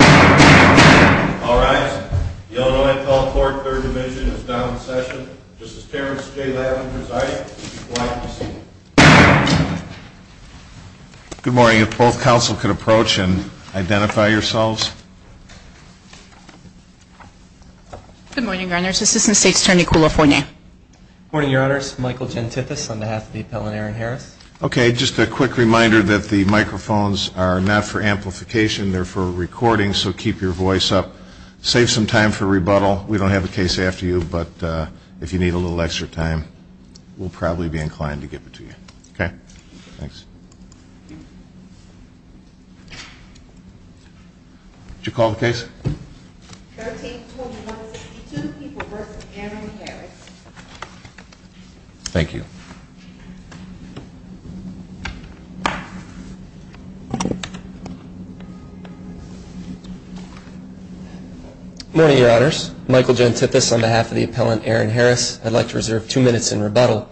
All rise. The Illinois Appellate Court, 3rd Division is now in session. Justice Terrence J. Lavin presiding. If you would like to proceed. Good morning. If both counsel could approach and identify yourselves. Good morning, Your Honors. Assistant State's Attorney, Kula Foine. Good morning, Your Honors. Michael Gentithis on behalf of the appellant, Aaron Harris. Okay, just a quick reminder that the microphones are not for amplification. They're for recording, so keep your voice up. Save some time for rebuttal. We don't have a case after you, but if you need a little extra time, we'll probably be inclined to give it to you. Okay? Thanks. Would you call the case? 13-21-62 v. Aaron Harris. Thank you. Good morning, Your Honors. Michael Gentithis on behalf of the appellant, Aaron Harris. I'd like to reserve two minutes in rebuttal.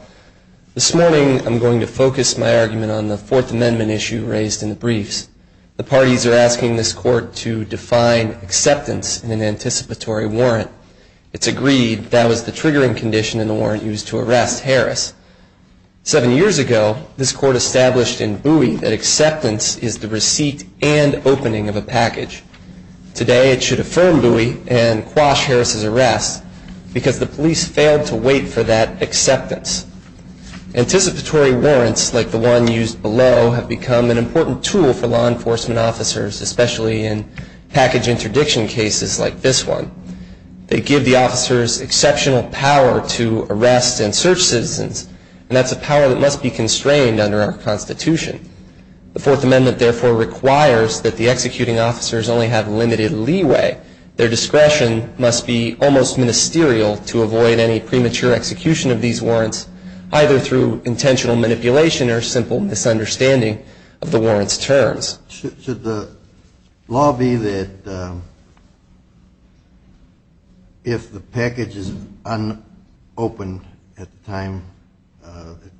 This morning I'm going to focus my argument on the Fourth Amendment issue raised in the briefs. The parties are asking this court to define acceptance in an anticipatory warrant. It's agreed that was the triggering condition in the warrant used to arrest Harris. Seven years ago, this court established in Bowie that acceptance is the receipt and opening of a package. Today, it should affirm Bowie and quash Harris's arrest because the police failed to wait for that acceptance. Anticipatory warrants, like the one used below, have become an important tool for law enforcement officers, especially in package interdiction cases like this one. They give the officers exceptional power to arrest and search citizens, and that's a power that must be constrained under our Constitution. The Fourth Amendment, therefore, requires that the executing officers only have limited leeway. Their discretion must be almost ministerial to avoid any premature execution of these warrants, either through intentional manipulation or simple misunderstanding of the warrant's terms. Should the law be that if the package is unopened at the time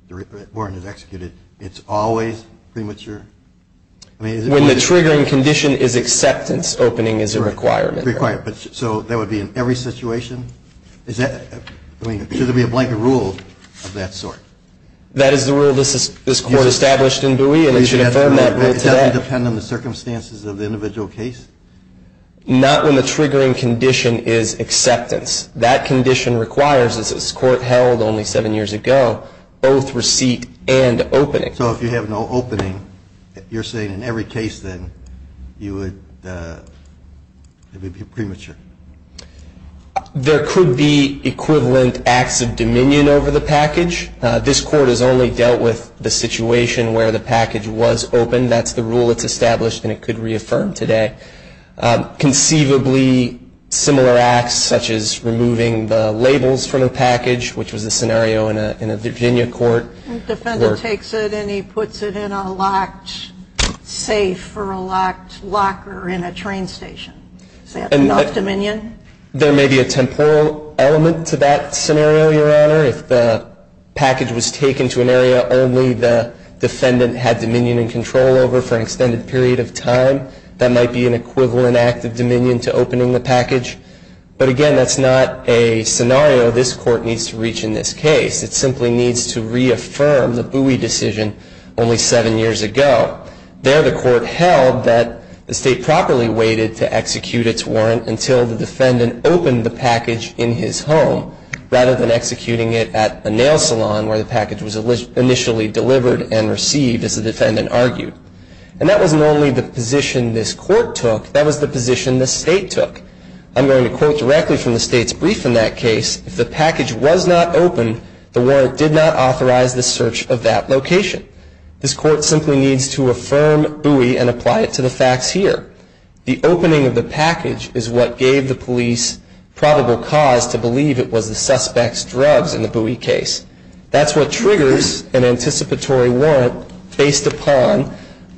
the warrant is executed, it's always premature? When the triggering condition is acceptance, opening is a requirement. So that would be in every situation? Should there be a blanket rule of that sort? That is the rule this court established in Bowie, and it should affirm that rule today. Does that depend on the circumstances of the individual case? Not when the triggering condition is acceptance. That condition requires, as this court held only seven years ago, both receipt and opening. So if you have no opening, you're saying in every case then you would be premature? There could be equivalent acts of dominion over the package. This court has only dealt with the situation where the package was opened. That's the rule that's established, and it could reaffirm today. Conceivably similar acts such as removing the labels from the package, which was a scenario in a Virginia court. The defendant takes it and he puts it in a locked safe or a locked locker in a train station. Is that enough dominion? There may be a temporal element to that scenario, Your Honor. If the package was taken to an area only the defendant had dominion and control over for an extended period of time, that might be an equivalent act of dominion to opening the package. But again, that's not a scenario this court needs to reach in this case. It simply needs to reaffirm the Bowie decision only seven years ago. There the court held that the state properly waited to execute its warrant until the defendant opened the package in his home, rather than executing it at a nail salon where the package was initially delivered and received, as the defendant argued. And that wasn't only the position this court took. That was the position the state took. I'm going to quote directly from the state's brief in that case. If the package was not opened, the warrant did not authorize the search of that location. This court simply needs to affirm Bowie and apply it to the facts here. The opening of the package is what gave the police probable cause to believe it was the suspect's drugs in the Bowie case. That's what triggers an anticipatory warrant based upon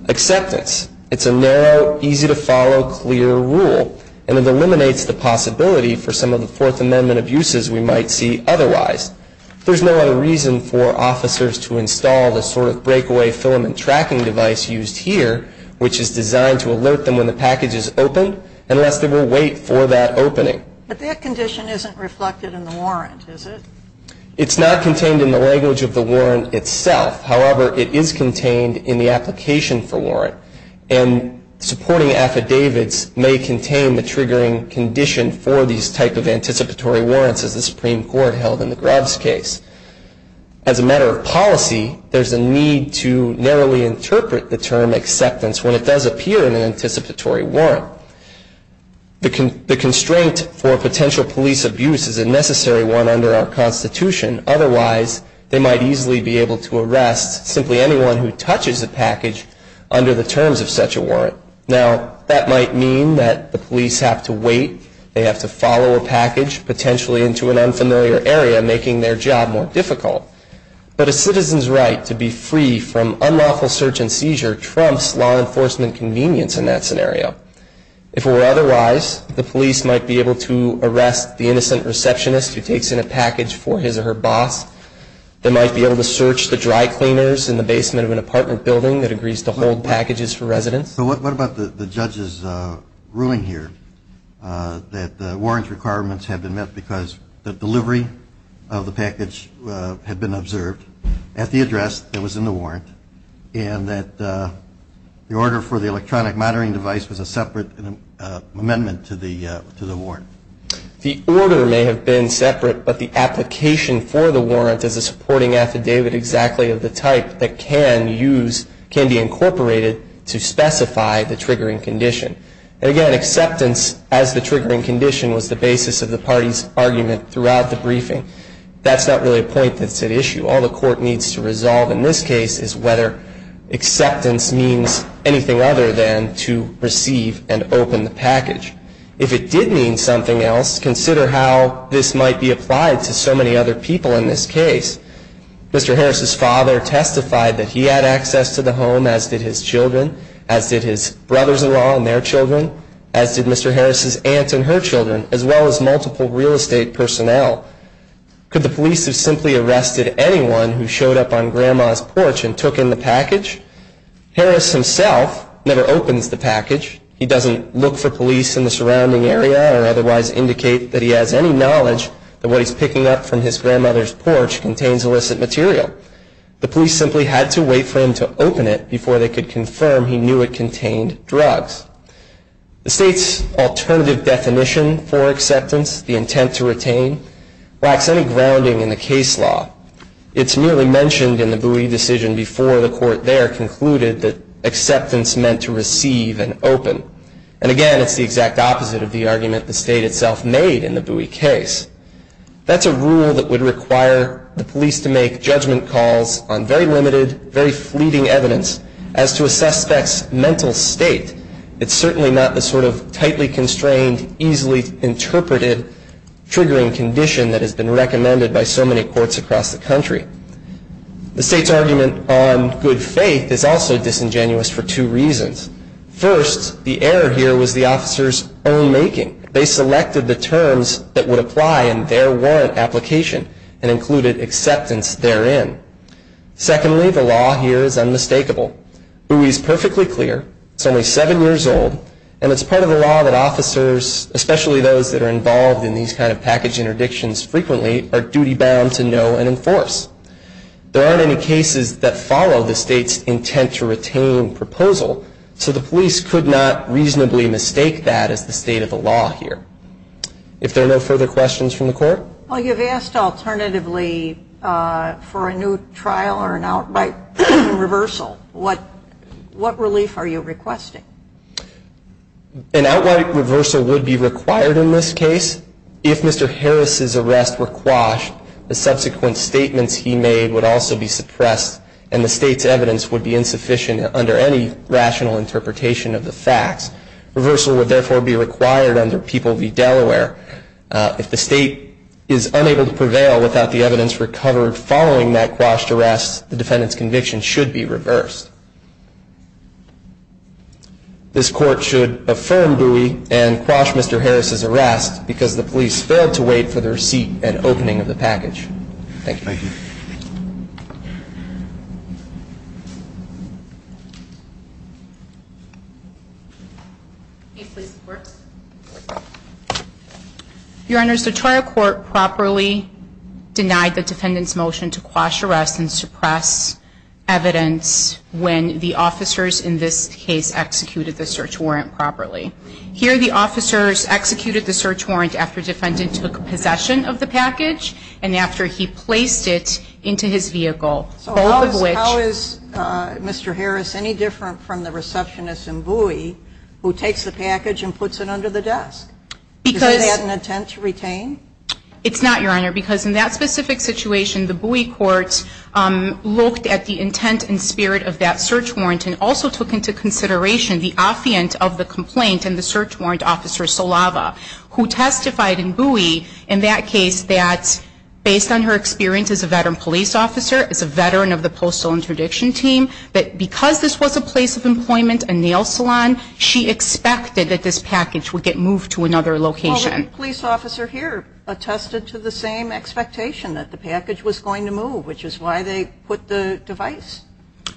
acceptance. It's a narrow, easy-to-follow, clear rule. And it eliminates the possibility for some of the Fourth Amendment abuses we might see otherwise. There's no other reason for officers to install the sort of breakaway filament tracking device used here, which is designed to alert them when the package is opened, unless they will wait for that opening. But that condition isn't reflected in the warrant, is it? It's not contained in the language of the warrant itself. However, it is contained in the application for warrant. And supporting affidavits may contain the triggering condition for these type of anticipatory warrants, as the Supreme Court held in the Grubbs case. As a matter of policy, there's a need to narrowly interpret the term acceptance when it does appear in an anticipatory warrant. The constraint for potential police abuse is a necessary one under our Constitution. Otherwise, they might easily be able to arrest simply anyone who touches the package under the terms of such a warrant. Now, that might mean that the police have to wait, they have to follow a package, potentially into an unfamiliar area, making their job more difficult. But a citizen's right to be free from unlawful search and seizure trumps law enforcement convenience in that scenario. If it were otherwise, the police might be able to arrest the innocent receptionist who takes in a package for his or her boss. They might be able to search the dry cleaners in the basement of an apartment building that agrees to hold packages for residents. So what about the judge's ruling here that the warrant requirements have been met because the delivery of the package had been observed at the address that was in the warrant and that the order for the electronic monitoring device was a separate amendment to the warrant? The order may have been separate, but the application for the warrant is a supporting affidavit exactly of the type that can use, can be incorporated to specify the triggering condition. And again, acceptance as the triggering condition was the basis of the party's argument throughout the briefing. That's not really a point that's at issue. All the court needs to resolve in this case is whether acceptance means anything other than to receive and open the package. If it did mean something else, consider how this might be applied to so many other people in this case. Mr. Harris's father testified that he had access to the home, as did his children, as did his brothers-in-law and their children, as did Mr. Harris's aunt and her children, as well as multiple real estate personnel. Could the police have simply arrested anyone who showed up on Grandma's porch and took in the package? Harris himself never opens the package. He doesn't look for police in the surrounding area or otherwise indicate that he has any knowledge that what he's picking up from his grandmother's porch contains illicit material. The police simply had to wait for him to open it before they could confirm he knew it contained drugs. The state's alternative definition for acceptance, the intent to retain, lacks any grounding in the case law. It's merely mentioned in the Bowie decision before the court there concluded that acceptance meant to receive and open. And again, it's the exact opposite of the argument the state itself made in the Bowie case. That's a rule that would require the police to make judgment calls on very limited, very fleeting evidence as to a suspect's mental state. It's certainly not the sort of tightly constrained, easily interpreted, triggering condition that has been recommended by so many courts across the country. The state's argument on good faith is also disingenuous for two reasons. First, the error here was the officer's own making. They selected the terms that would apply in their warrant application and included acceptance therein. Secondly, the law here is unmistakable. Bowie is perfectly clear. It's only seven years old, and it's part of the law that officers, especially those that are involved in these kind of package interdictions frequently, are duty bound to know and enforce. There aren't any cases that follow the state's intent to retain proposal, so the police could not reasonably mistake that as the state of the law here. If there are no further questions from the court? Well, you've asked alternatively for a new trial or an outright reversal. What relief are you requesting? An outright reversal would be required in this case. If Mr. Harris's arrests were quashed, the subsequent statements he made would also be suppressed, and the state's evidence would be insufficient under any rational interpretation of the facts. Reversal would therefore be required under People v. Delaware. If the state is unable to prevail without the evidence recovered following that quashed arrest, the defendant's conviction should be reversed. This court should affirm Bowie and quash Mr. Harris's arrest because the police failed to wait for the receipt and opening of the package. Thank you. Thank you. Your Honors, the trial court properly denied the defendant's motion to quash arrests and suppress evidence when the officers in this case executed the search warrant properly. Here the officers executed the search warrant after the defendant took possession of the package, So how is Mr. Harris any different from the receptionist in Bowie who takes the package and puts it under the desk? Is that an intent to retain? It's not, Your Honor, because in that specific situation, the Bowie court looked at the intent and spirit of that search warrant and also took into consideration the offence of the complaint and the search warrant officer, who testified in Bowie in that case that, based on her experience as a veteran police officer, as a veteran of the Postal Interdiction Team, that because this was a place of employment, a nail salon, she expected that this package would get moved to another location. Well, the police officer here attested to the same expectation that the package was going to move, which is why they put the device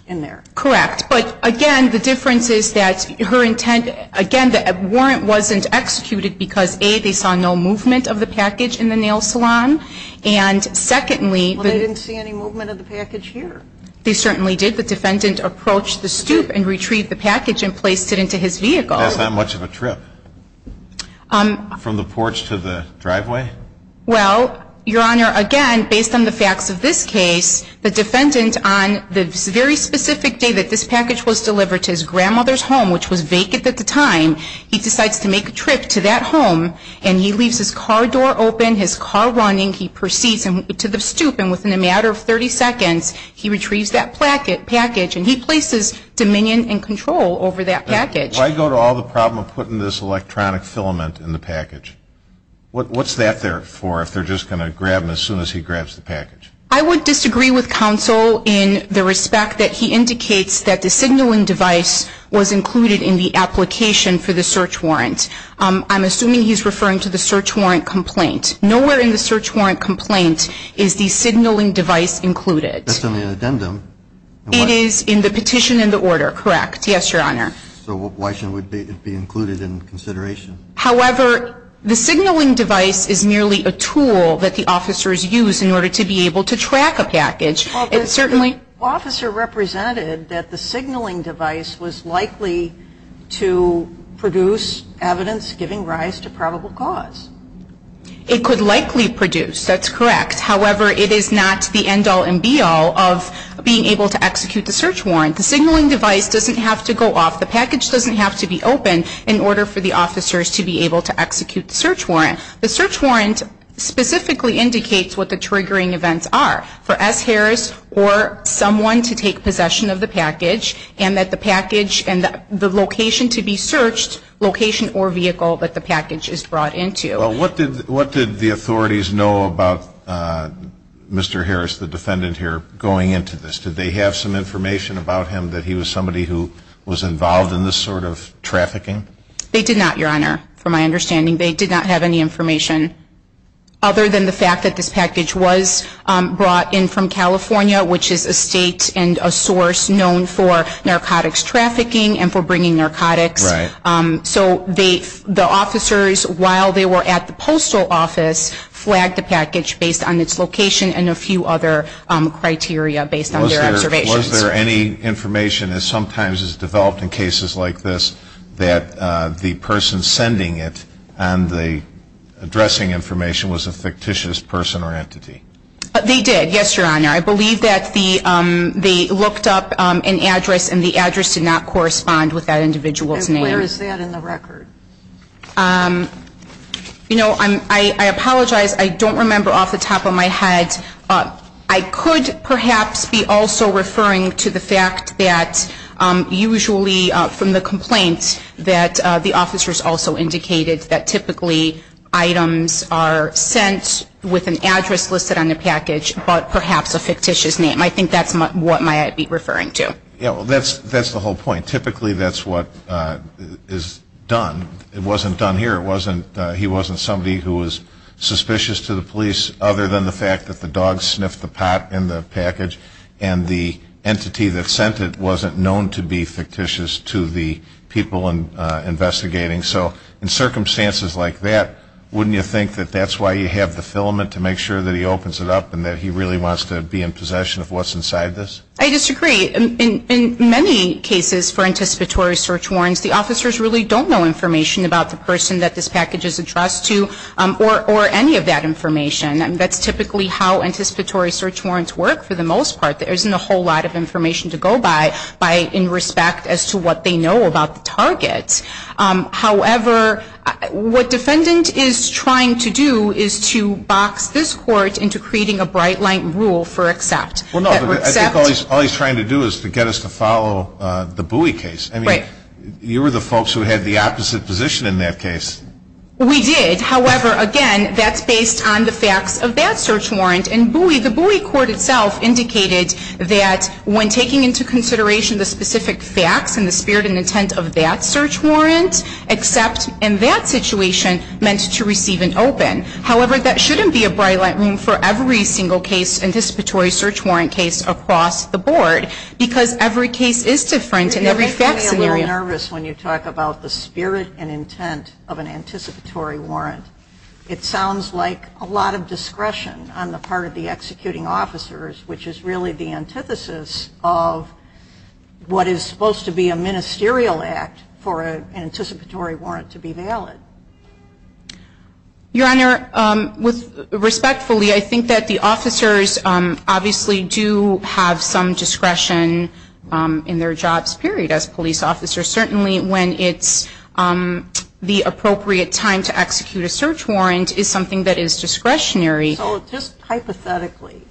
in there. Correct. But, again, the difference is that her intent, again, the warrant wasn't executed because, A, they saw no movement of the package in the nail salon, and, secondly, Well, they didn't see any movement of the package here. They certainly did. The defendant approached the stoop and retrieved the package and placed it into his vehicle. That's not much of a trip. From the porch to the driveway? Well, Your Honor, again, based on the facts of this case, the defendant, on the very specific day that this package was delivered to his grandmother's home, which was vacant at the time, he decides to make a trip to that home, and he leaves his car door open, his car running. He proceeds to the stoop, and within a matter of 30 seconds, he retrieves that package, and he places dominion and control over that package. Why go to all the problem of putting this electronic filament in the package? What's that there for if they're just going to grab him as soon as he grabs the package? I would disagree with counsel in the respect that he indicates that the signaling device was included in the application for the search warrant. I'm assuming he's referring to the search warrant complaint. Nowhere in the search warrant complaint is the signaling device included. That's on the addendum. It is in the petition and the order, correct? Yes, Your Honor. So why should it be included in consideration? However, the signaling device is merely a tool that the officers use in order to be able to track a package. Well, the officer represented that the signaling device was likely to produce evidence giving rise to probable cause. It could likely produce. That's correct. However, it is not the end-all and be-all of being able to execute the search warrant. The signaling device doesn't have to go off. The package doesn't have to be open in order for the officers to be able to execute the search warrant. The search warrant specifically indicates what the triggering events are for S. Harris or someone to take possession of the package and that the package and the location to be searched, location or vehicle that the package is brought into. Well, what did the authorities know about Mr. Harris, the defendant here, going into this? Did they have some information about him that he was somebody who was involved in this sort of trafficking? They did not, Your Honor, from my understanding. They did not have any information other than the fact that this package was brought in from California, which is a state and a source known for narcotics trafficking and for bringing narcotics. Right. So the officers, while they were at the postal office, flagged the package based on its location and a few other criteria based on their observations. Was there any information, as sometimes is developed in cases like this, that the person sending it and the addressing information was a fictitious person or entity? They did, yes, Your Honor. I believe that they looked up an address and the address did not correspond with that individual's name. And where is that in the record? You know, I apologize. I don't remember off the top of my head. I could perhaps be also referring to the fact that usually from the complaint that the officers also indicated that typically items are sent with an address listed on the package but perhaps a fictitious name. I think that's what I might be referring to. Yeah, well, that's the whole point. Typically that's what is done. It wasn't done here. He wasn't somebody who was suspicious to the police other than the fact that the dog sniffed the pot in the package and the entity that sent it wasn't known to be fictitious to the people investigating. So in circumstances like that, wouldn't you think that that's why you have the filament to make sure that he opens it up and that he really wants to be in possession of what's inside this? I disagree. In many cases for anticipatory search warrants, the officers really don't know information about the person that this package is addressed to or any of that information. That's typically how anticipatory search warrants work for the most part. There isn't a whole lot of information to go by in respect as to what they know about the target. However, what defendant is trying to do is to box this court into creating a bright-light rule for accept. All he's trying to do is to get us to follow the Bowie case. You were the folks who had the opposite position in that case. We did. However, again, that's based on the facts of that search warrant. In Bowie, the Bowie court itself indicated that when taking into consideration the specific facts and the spirit and intent of that search warrant, accept in that situation meant to receive an open. However, that shouldn't be a bright-light rule for every single case, anticipatory search warrant case across the board because every case is different in every fact scenario. You make me a little nervous when you talk about the spirit and intent of an anticipatory warrant. It sounds like a lot of discretion on the part of the executing officers, which is really the antithesis of what is supposed to be a ministerial act for an anticipatory warrant to be valid. Your Honor, respectfully, I think that the officers obviously do have some discretion in their jobs, period, as police officers. Certainly when it's the appropriate time to execute a search warrant is something that is discretionary. So just hypothetically,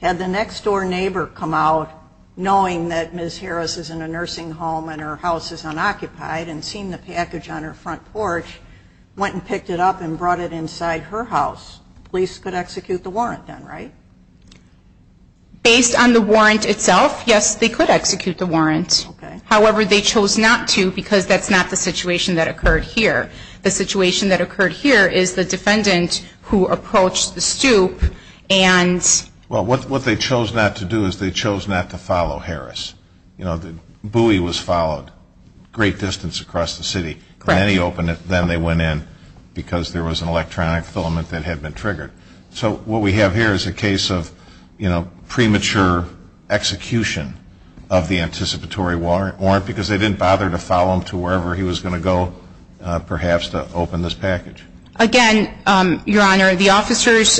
had the next-door neighbor come out knowing that Ms. Harris is in a nursing home and her house is unoccupied and seen the package on her front porch, went and picked it up and brought it inside her house, police could execute the warrant then, right? Based on the warrant itself, yes, they could execute the warrant. However, they chose not to because that's not the situation that occurred here. The situation that occurred here is the defendant who approached the stoop and ---- Well, what they chose not to do is they chose not to follow Harris. You know, the buoy was followed a great distance across the city. Correct. Then he opened it, then they went in because there was an electronic filament that had been triggered. So what we have here is a case of, you know, premature execution of the anticipatory warrant because they didn't bother to follow him to wherever he was going to go perhaps to open this package. Again, Your Honor, the officers,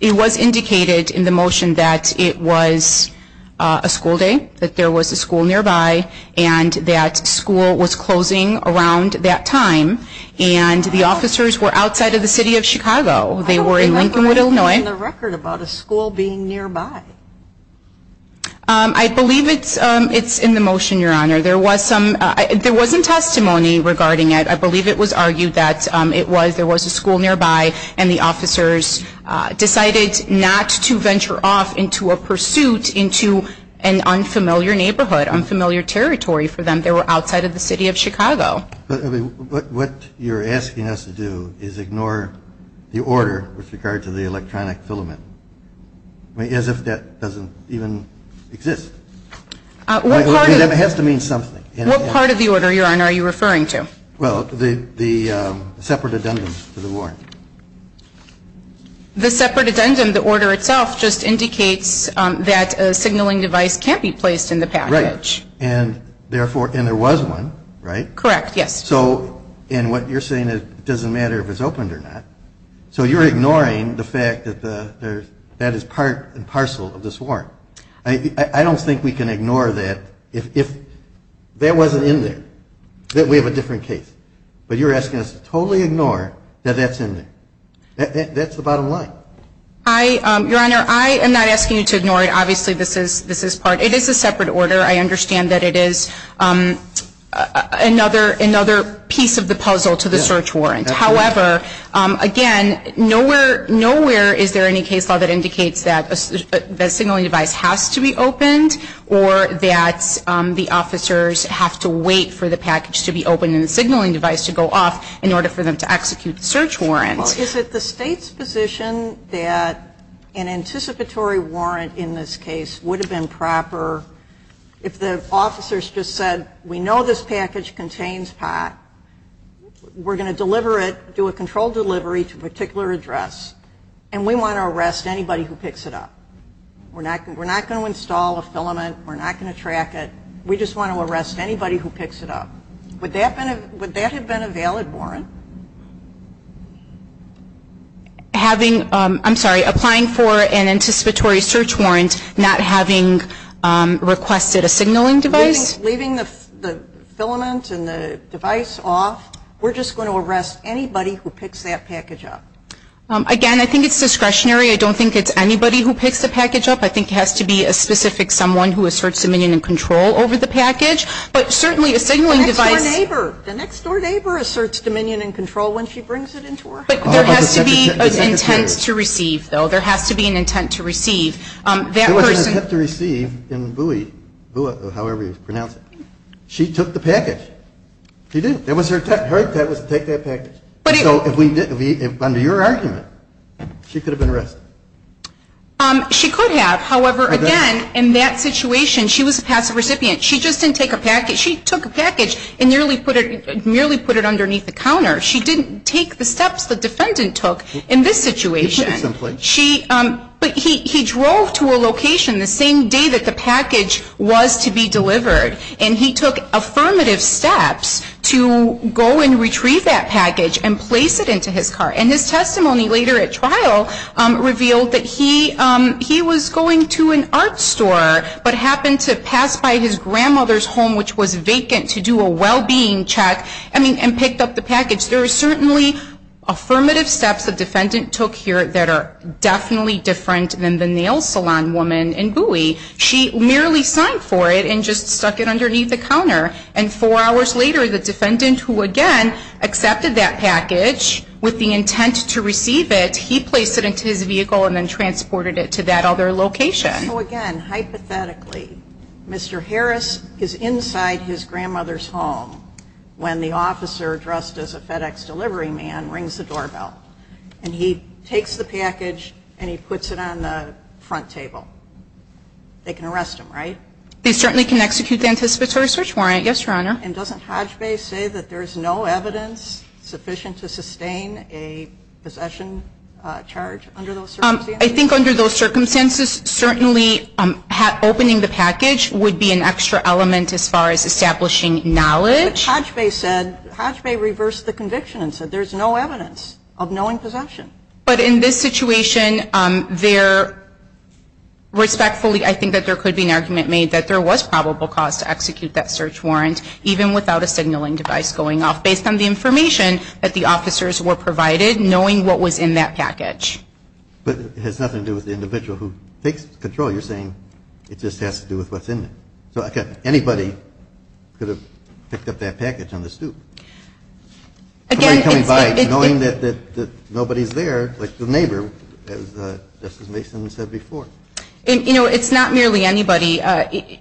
it was indicated in the motion that it was a school day, that there was a school nearby and that school was closing around that time and the officers were outside of the city of Chicago. They were in Lincolnwood, Illinois. I don't believe there was anything in the record about a school being nearby. I believe it's in the motion, Your Honor. There was some, there was some testimony regarding it. I believe it was argued that it was, there was a school nearby and the officers decided not to venture off into a pursuit into an unfamiliar neighborhood, unfamiliar territory for them. They were outside of the city of Chicago. But what you're asking us to do is ignore the order with regard to the electronic filament, as if that doesn't even exist. What part of it? It has to mean something. What part of the order, Your Honor, are you referring to? Well, the separate addendum to the warrant. The separate addendum, the order itself, just indicates that a signaling device can't be placed in the package. Right. And therefore, and there was one, right? Correct, yes. So, and what you're saying is it doesn't matter if it's opened or not. So you're ignoring the fact that that is part and parcel of this warrant. I don't think we can ignore that if that wasn't in there, that we have a different case. But you're asking us to totally ignore that that's in there. That's the bottom line. Your Honor, I am not asking you to ignore it. Obviously, this is part. It is a separate order. I understand that it is another piece of the puzzle to the search warrant. However, again, nowhere is there any case law that indicates that a signaling device has to be opened or that the officers have to wait for the package to be opened and the signaling device to go off in order for them to execute the search warrant. Well, is it the State's position that an anticipatory warrant in this case would have been proper if the officers just said, we know this package contains pot. We're going to deliver it, do a controlled delivery to a particular address, and we want to arrest anybody who picks it up. We're not going to install a filament. We're not going to track it. We just want to arrest anybody who picks it up. Would that have been a valid warrant? I'm sorry, applying for an anticipatory search warrant, not having requested a signaling device? Leaving the filament and the device off, we're just going to arrest anybody who picks that package up. Again, I think it's discretionary. I don't think it's anybody who picks the package up. I think it has to be a specific someone who asserts dominion and control over the package, but certainly a signaling device. The next-door neighbor. The next-door neighbor asserts dominion and control when she brings it into her house. But there has to be an intent to receive, though. There has to be an intent to receive. There was an intent to receive in Bui, however you pronounce it. She took the package. She did. That was her intent. Her intent was to take that package. So under your argument, she could have been arrested. She could have. However, again, in that situation, she was a passive recipient. She just didn't take a package. She took a package and merely put it underneath the counter. She didn't take the steps the defendant took in this situation. But he drove to a location the same day that the package was to be delivered, and he took affirmative steps to go and retrieve that package and place it into his car. And his testimony later at trial revealed that he was going to an art store but happened to pass by his grandmother's home, which was vacant, to do a well-being check and picked up the package. There are certainly affirmative steps the defendant took here that are definitely different than the nail salon woman in Bui. She merely signed for it and just stuck it underneath the counter. And four hours later, the defendant, who again accepted that package with the intent to receive it, he placed it into his vehicle and then transported it to that other location. So, again, hypothetically, Mr. Harris is inside his grandmother's home when the officer, dressed as a FedEx delivery man, rings the doorbell. And he takes the package and he puts it on the front table. They can arrest him, right? They certainly can execute the anticipatory search warrant. Yes, Your Honor. And doesn't Hodge Bay say that there is no evidence sufficient to sustain a possession charge under those circumstances? I think under those circumstances, certainly opening the package would be an extra element as far as establishing knowledge. But Hodge Bay said, Hodge Bay reversed the conviction and said there's no evidence of knowing possession. But in this situation, respectfully, I think that there could be an argument made that there was probable cause to execute that search warrant, even without a signaling device going off, based on the information that the officers were provided, knowing what was in that package. But it has nothing to do with the individual who takes control. You're saying it just has to do with what's in it. Anybody could have picked up that package on the stoop. Again, it's... Knowing that nobody's there, like the neighbor, as Justice Mason said before. You know, it's not merely anybody.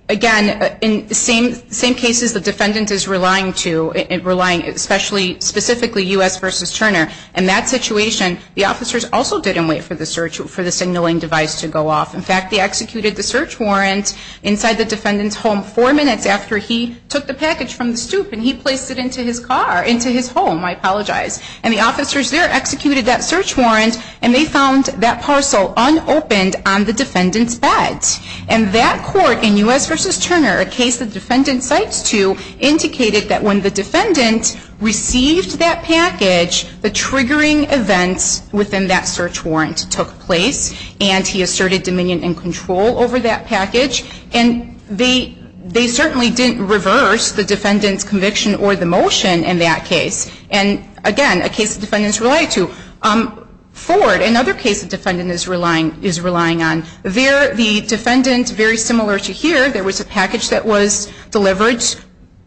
Again, in the same cases the defendant is relying to, relying, especially specifically U.S. v. Turner, in that situation, the officers also didn't wait for the search, for the signaling device to go off. In fact, they executed the search warrant inside the defendant's home four minutes after he took the package from the stoop and he placed it into his car, into his home. I apologize. And the officers there executed that search warrant and they found that parcel unopened on the defendant's bed. And that court in U.S. v. Turner, a case the defendant cites to, indicated that when the defendant received that package, the triggering events within that search warrant took place and he asserted dominion and control over that package. And they certainly didn't reverse the defendant's conviction or the motion in that case. And, again, a case the defendant's relied to. Ford, another case the defendant is relying on, the defendant, very similar to here, there was a package that was delivered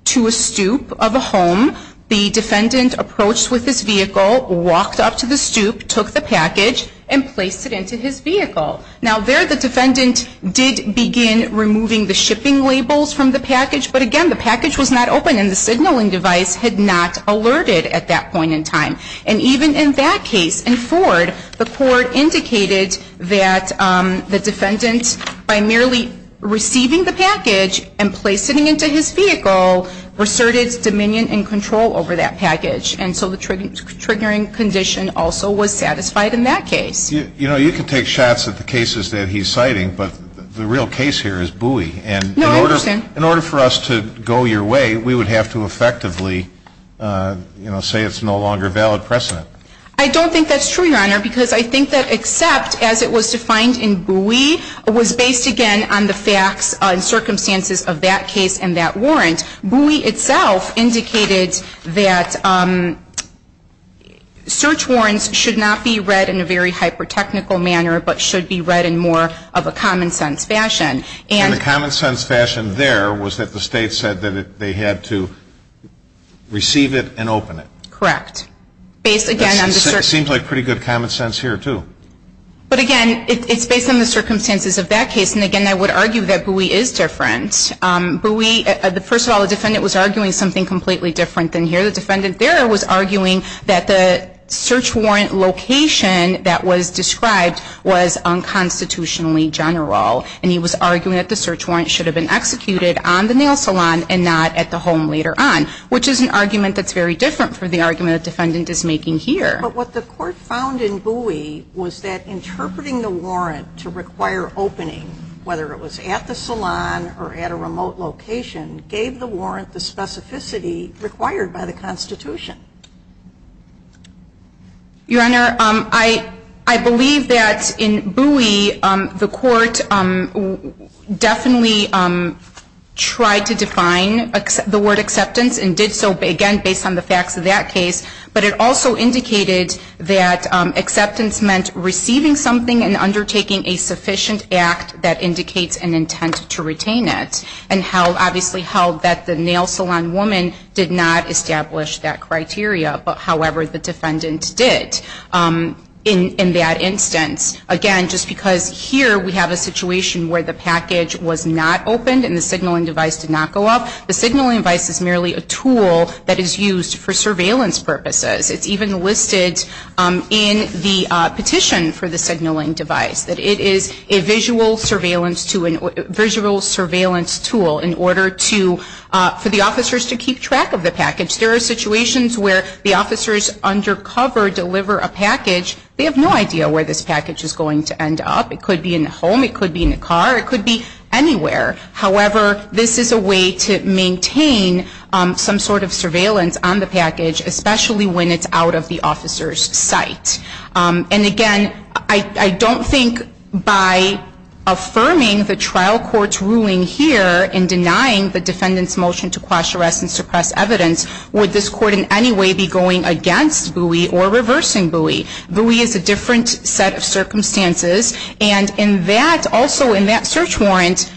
to a stoop of a home. The defendant approached with his vehicle, walked up to the stoop, took the package and placed it into his vehicle. Now, there the defendant did begin removing the shipping labels from the package, but, again, the package was not open and the signaling device had not alerted at that point in time. And even in that case, in Ford, the court indicated that the defendant, by merely receiving the package and placing it into his vehicle, asserted dominion and control over that package. And so the triggering condition also was satisfied in that case. You know, you can take shots at the cases that he's citing, but the real case here is Bowie. No, I understand. And in order for us to go your way, we would have to effectively, you know, say it's no longer valid precedent. I don't think that's true, Your Honor, because I think that except as it was defined in Bowie, it was based, again, on the facts and circumstances of that case and that warrant. Bowie itself indicated that search warrants should not be read in a very hyper-technical manner, but should be read in more of a common-sense fashion. And the common-sense fashion there was that the State said that they had to receive it and open it. Correct. Based, again, on the circumstances. It seems like pretty good common-sense here, too. But, again, it's based on the circumstances of that case. And, again, I would argue that Bowie is different. First of all, the defendant was arguing something completely different than here. The defendant there was arguing that the search warrant location that was described was unconstitutionally general, and he was arguing that the search warrant should have been executed on the nail salon and not at the home later on, which is an argument that's very different from the argument the defendant is making here. But what the Court found in Bowie was that interpreting the warrant to require opening, whether it was at the salon or at a remote location, gave the warrant the specificity required by the Constitution. Your Honor, I believe that in Bowie the Court definitely tried to define the word acceptance and did so, again, based on the facts of that case. But it also indicated that acceptance meant receiving something and undertaking a sufficient act that indicates an intent to retain it. And, obviously, held that the nail salon woman did not establish that criteria, but, however, the defendant did in that instance. Again, just because here we have a situation where the package was not opened and the signaling device did not go up, the signaling device is merely a tool that is used for surveillance purposes. It's even listed in the petition for the signaling device, that it is a visual surveillance tool in order for the officers to keep track of the package. There are situations where the officers undercover deliver a package. They have no idea where this package is going to end up. It could be in the home. It could be in the car. It could be anywhere. Especially when it's out of the officer's sight. And, again, I don't think by affirming the trial court's ruling here and denying the defendant's motion to quash, arrest, and suppress evidence, would this court in any way be going against Bowie or reversing Bowie. Bowie is a different set of circumstances. And in that, also in that search warrant,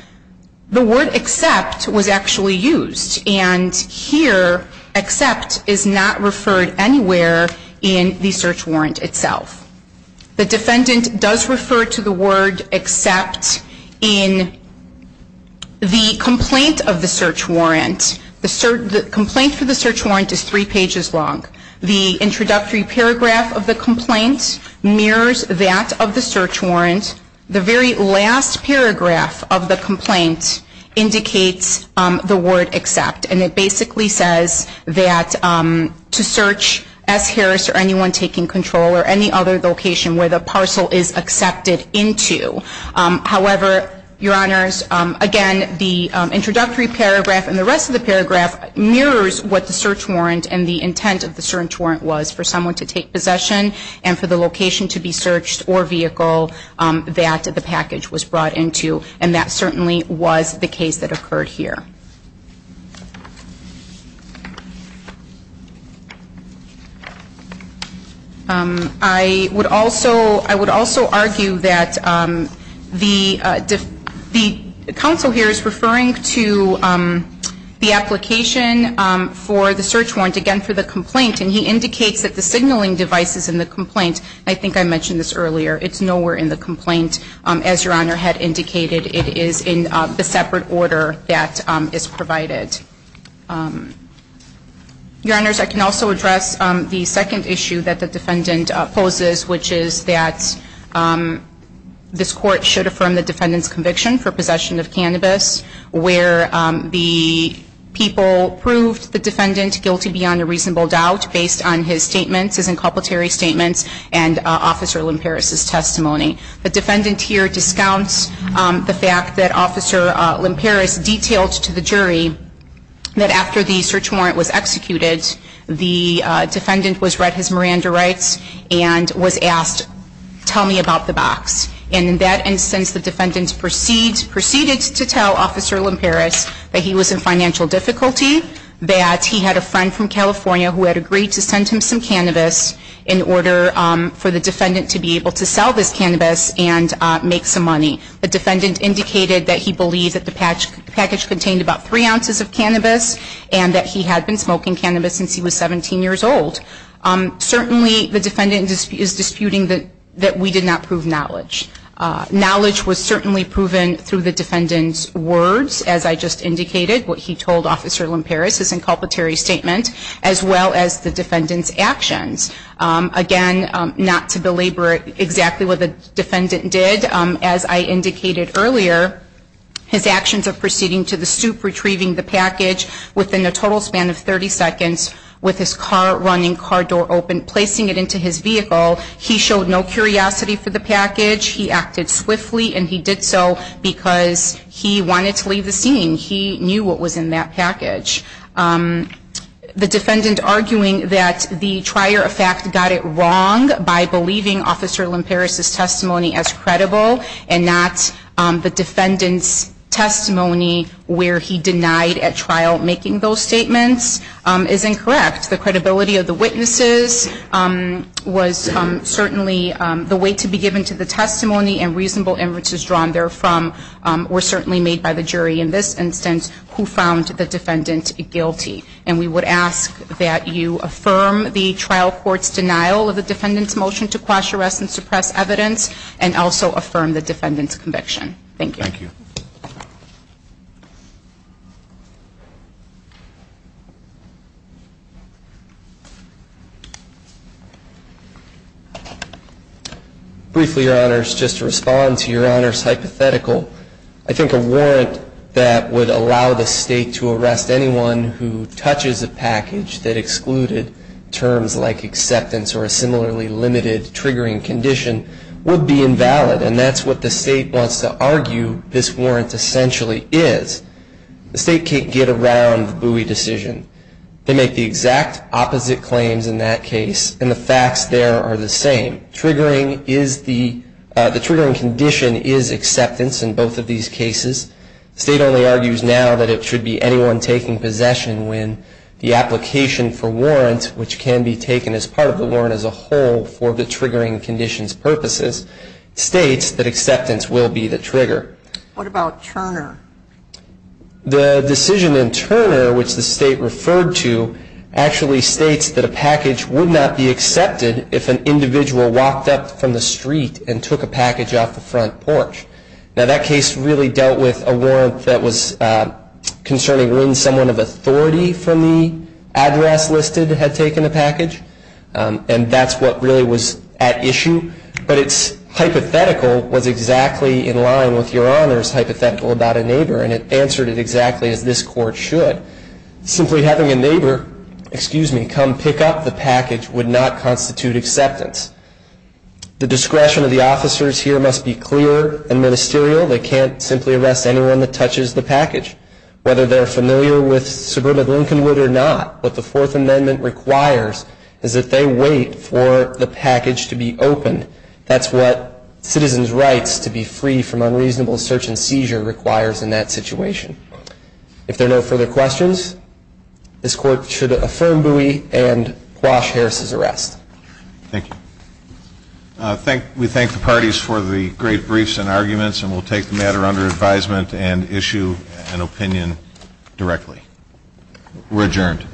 the word accept was actually used. And here, accept is not referred anywhere in the search warrant itself. The defendant does refer to the word accept in the complaint of the search warrant. The complaint for the search warrant is three pages long. The introductory paragraph of the complaint mirrors that of the search warrant. The very last paragraph of the complaint indicates the word accept. And it basically says that to search S. Harris or anyone taking control or any other location where the parcel is accepted into. However, Your Honors, again, the introductory paragraph and the rest of the paragraph mirrors what the search warrant and the intent of the search warrant was for someone to take possession and for the location to be searched or vehicle that the package was brought into. And that certainly was the case that occurred here. I would also argue that the counsel here is referring to the application for the search warrant, again, for the complaint. And he indicates that the signaling device is in the complaint. I think I mentioned this earlier. It's nowhere in the complaint. As Your Honor had indicated, it is in the separate order that is provided. Your Honors, I can also address the second issue that the defendant poses, which is that this court should affirm the defendant's conviction for possession of cannabis where the people proved the defendant guilty beyond a reasonable doubt based on his statements, his inculpatory statements, and Officer Lamparis' testimony. The defendant here discounts the fact that Officer Lamparis detailed to the jury that after the search warrant was executed, the defendant was read his Miranda rights and was asked, tell me about the box. And in that instance, the defendant proceeded to tell Officer Lamparis that he was in financial difficulty, that he had a friend from California who had agreed to send him some cannabis in order for the defendant to be able to sell this cannabis and make some money. The defendant indicated that he believed that the package contained about three ounces of cannabis and that he had been smoking cannabis since he was 17 years old. Certainly, the defendant is disputing that we did not prove knowledge. Knowledge was certainly proven through the defendant's words, as I just indicated, what he told Officer Lamparis, his inculpatory statement, as well as the defendant's actions. Again, not to belabor exactly what the defendant did, as I indicated earlier, his actions of proceeding to the stoop, retrieving the package within a total span of 30 seconds with his car running, car door open, placing it into his vehicle, he showed no curiosity for the package. He acted swiftly, and he did so because he wanted to leave the scene. He knew what was in that package. The defendant arguing that the trier of fact got it wrong by believing Officer Lamparis' testimony as credible and not the defendant's testimony where he denied at trial making those statements is incorrect. The credibility of the witnesses was certainly the way to be given to the testimony and reasonable inferences drawn therefrom were certainly made by the jury in this instance who found the defendant guilty. And we would ask that you affirm the trial court's denial of the defendant's motion to quash arrest and suppress evidence and also affirm the defendant's conviction. Thank you. Briefly, Your Honors, just to respond to Your Honors hypothetical, I think a warrant that would allow the state to arrest anyone who touches a package that excluded terms like acceptance or a similarly limited triggering condition would be invalid, and that's what the state wants to argue this warrant essentially is. The state can't get around the Bowie decision. They make the exact opposite claims in that case, and the facts there are the same. The triggering condition is acceptance in both of these cases. The state only argues now that it should be anyone taking possession when the application for warrant, which can be taken as part of the warrant as a whole for the triggering condition's purposes, states that acceptance will be the trigger. What about Turner? The decision in Turner, which the state referred to, actually states that a package would not be accepted if an individual walked up from the street and took a package off the front porch. Now, that case really dealt with a warrant that was concerning when someone of authority from the address listed had taken a package, and that's what really was at issue. But it's hypothetical was exactly in line with Your Honors hypothetical about a neighbor, and it answered it exactly as this court should. Simply having a neighbor come pick up the package would not constitute acceptance. The discretion of the officers here must be clear and ministerial. They can't simply arrest anyone that touches the package. Whether they're familiar with subordinate Lincolnwood or not, what the Fourth Amendment requires is that they wait for the package to be opened. That's what citizens' rights to be free from unreasonable search and seizure requires in that situation. If there are no further questions, this Court should affirm Bowie and quash Harris' arrest. Thank you. We thank the parties for the great briefs and arguments, and we'll take the matter under advisement and issue an opinion directly. We're adjourned.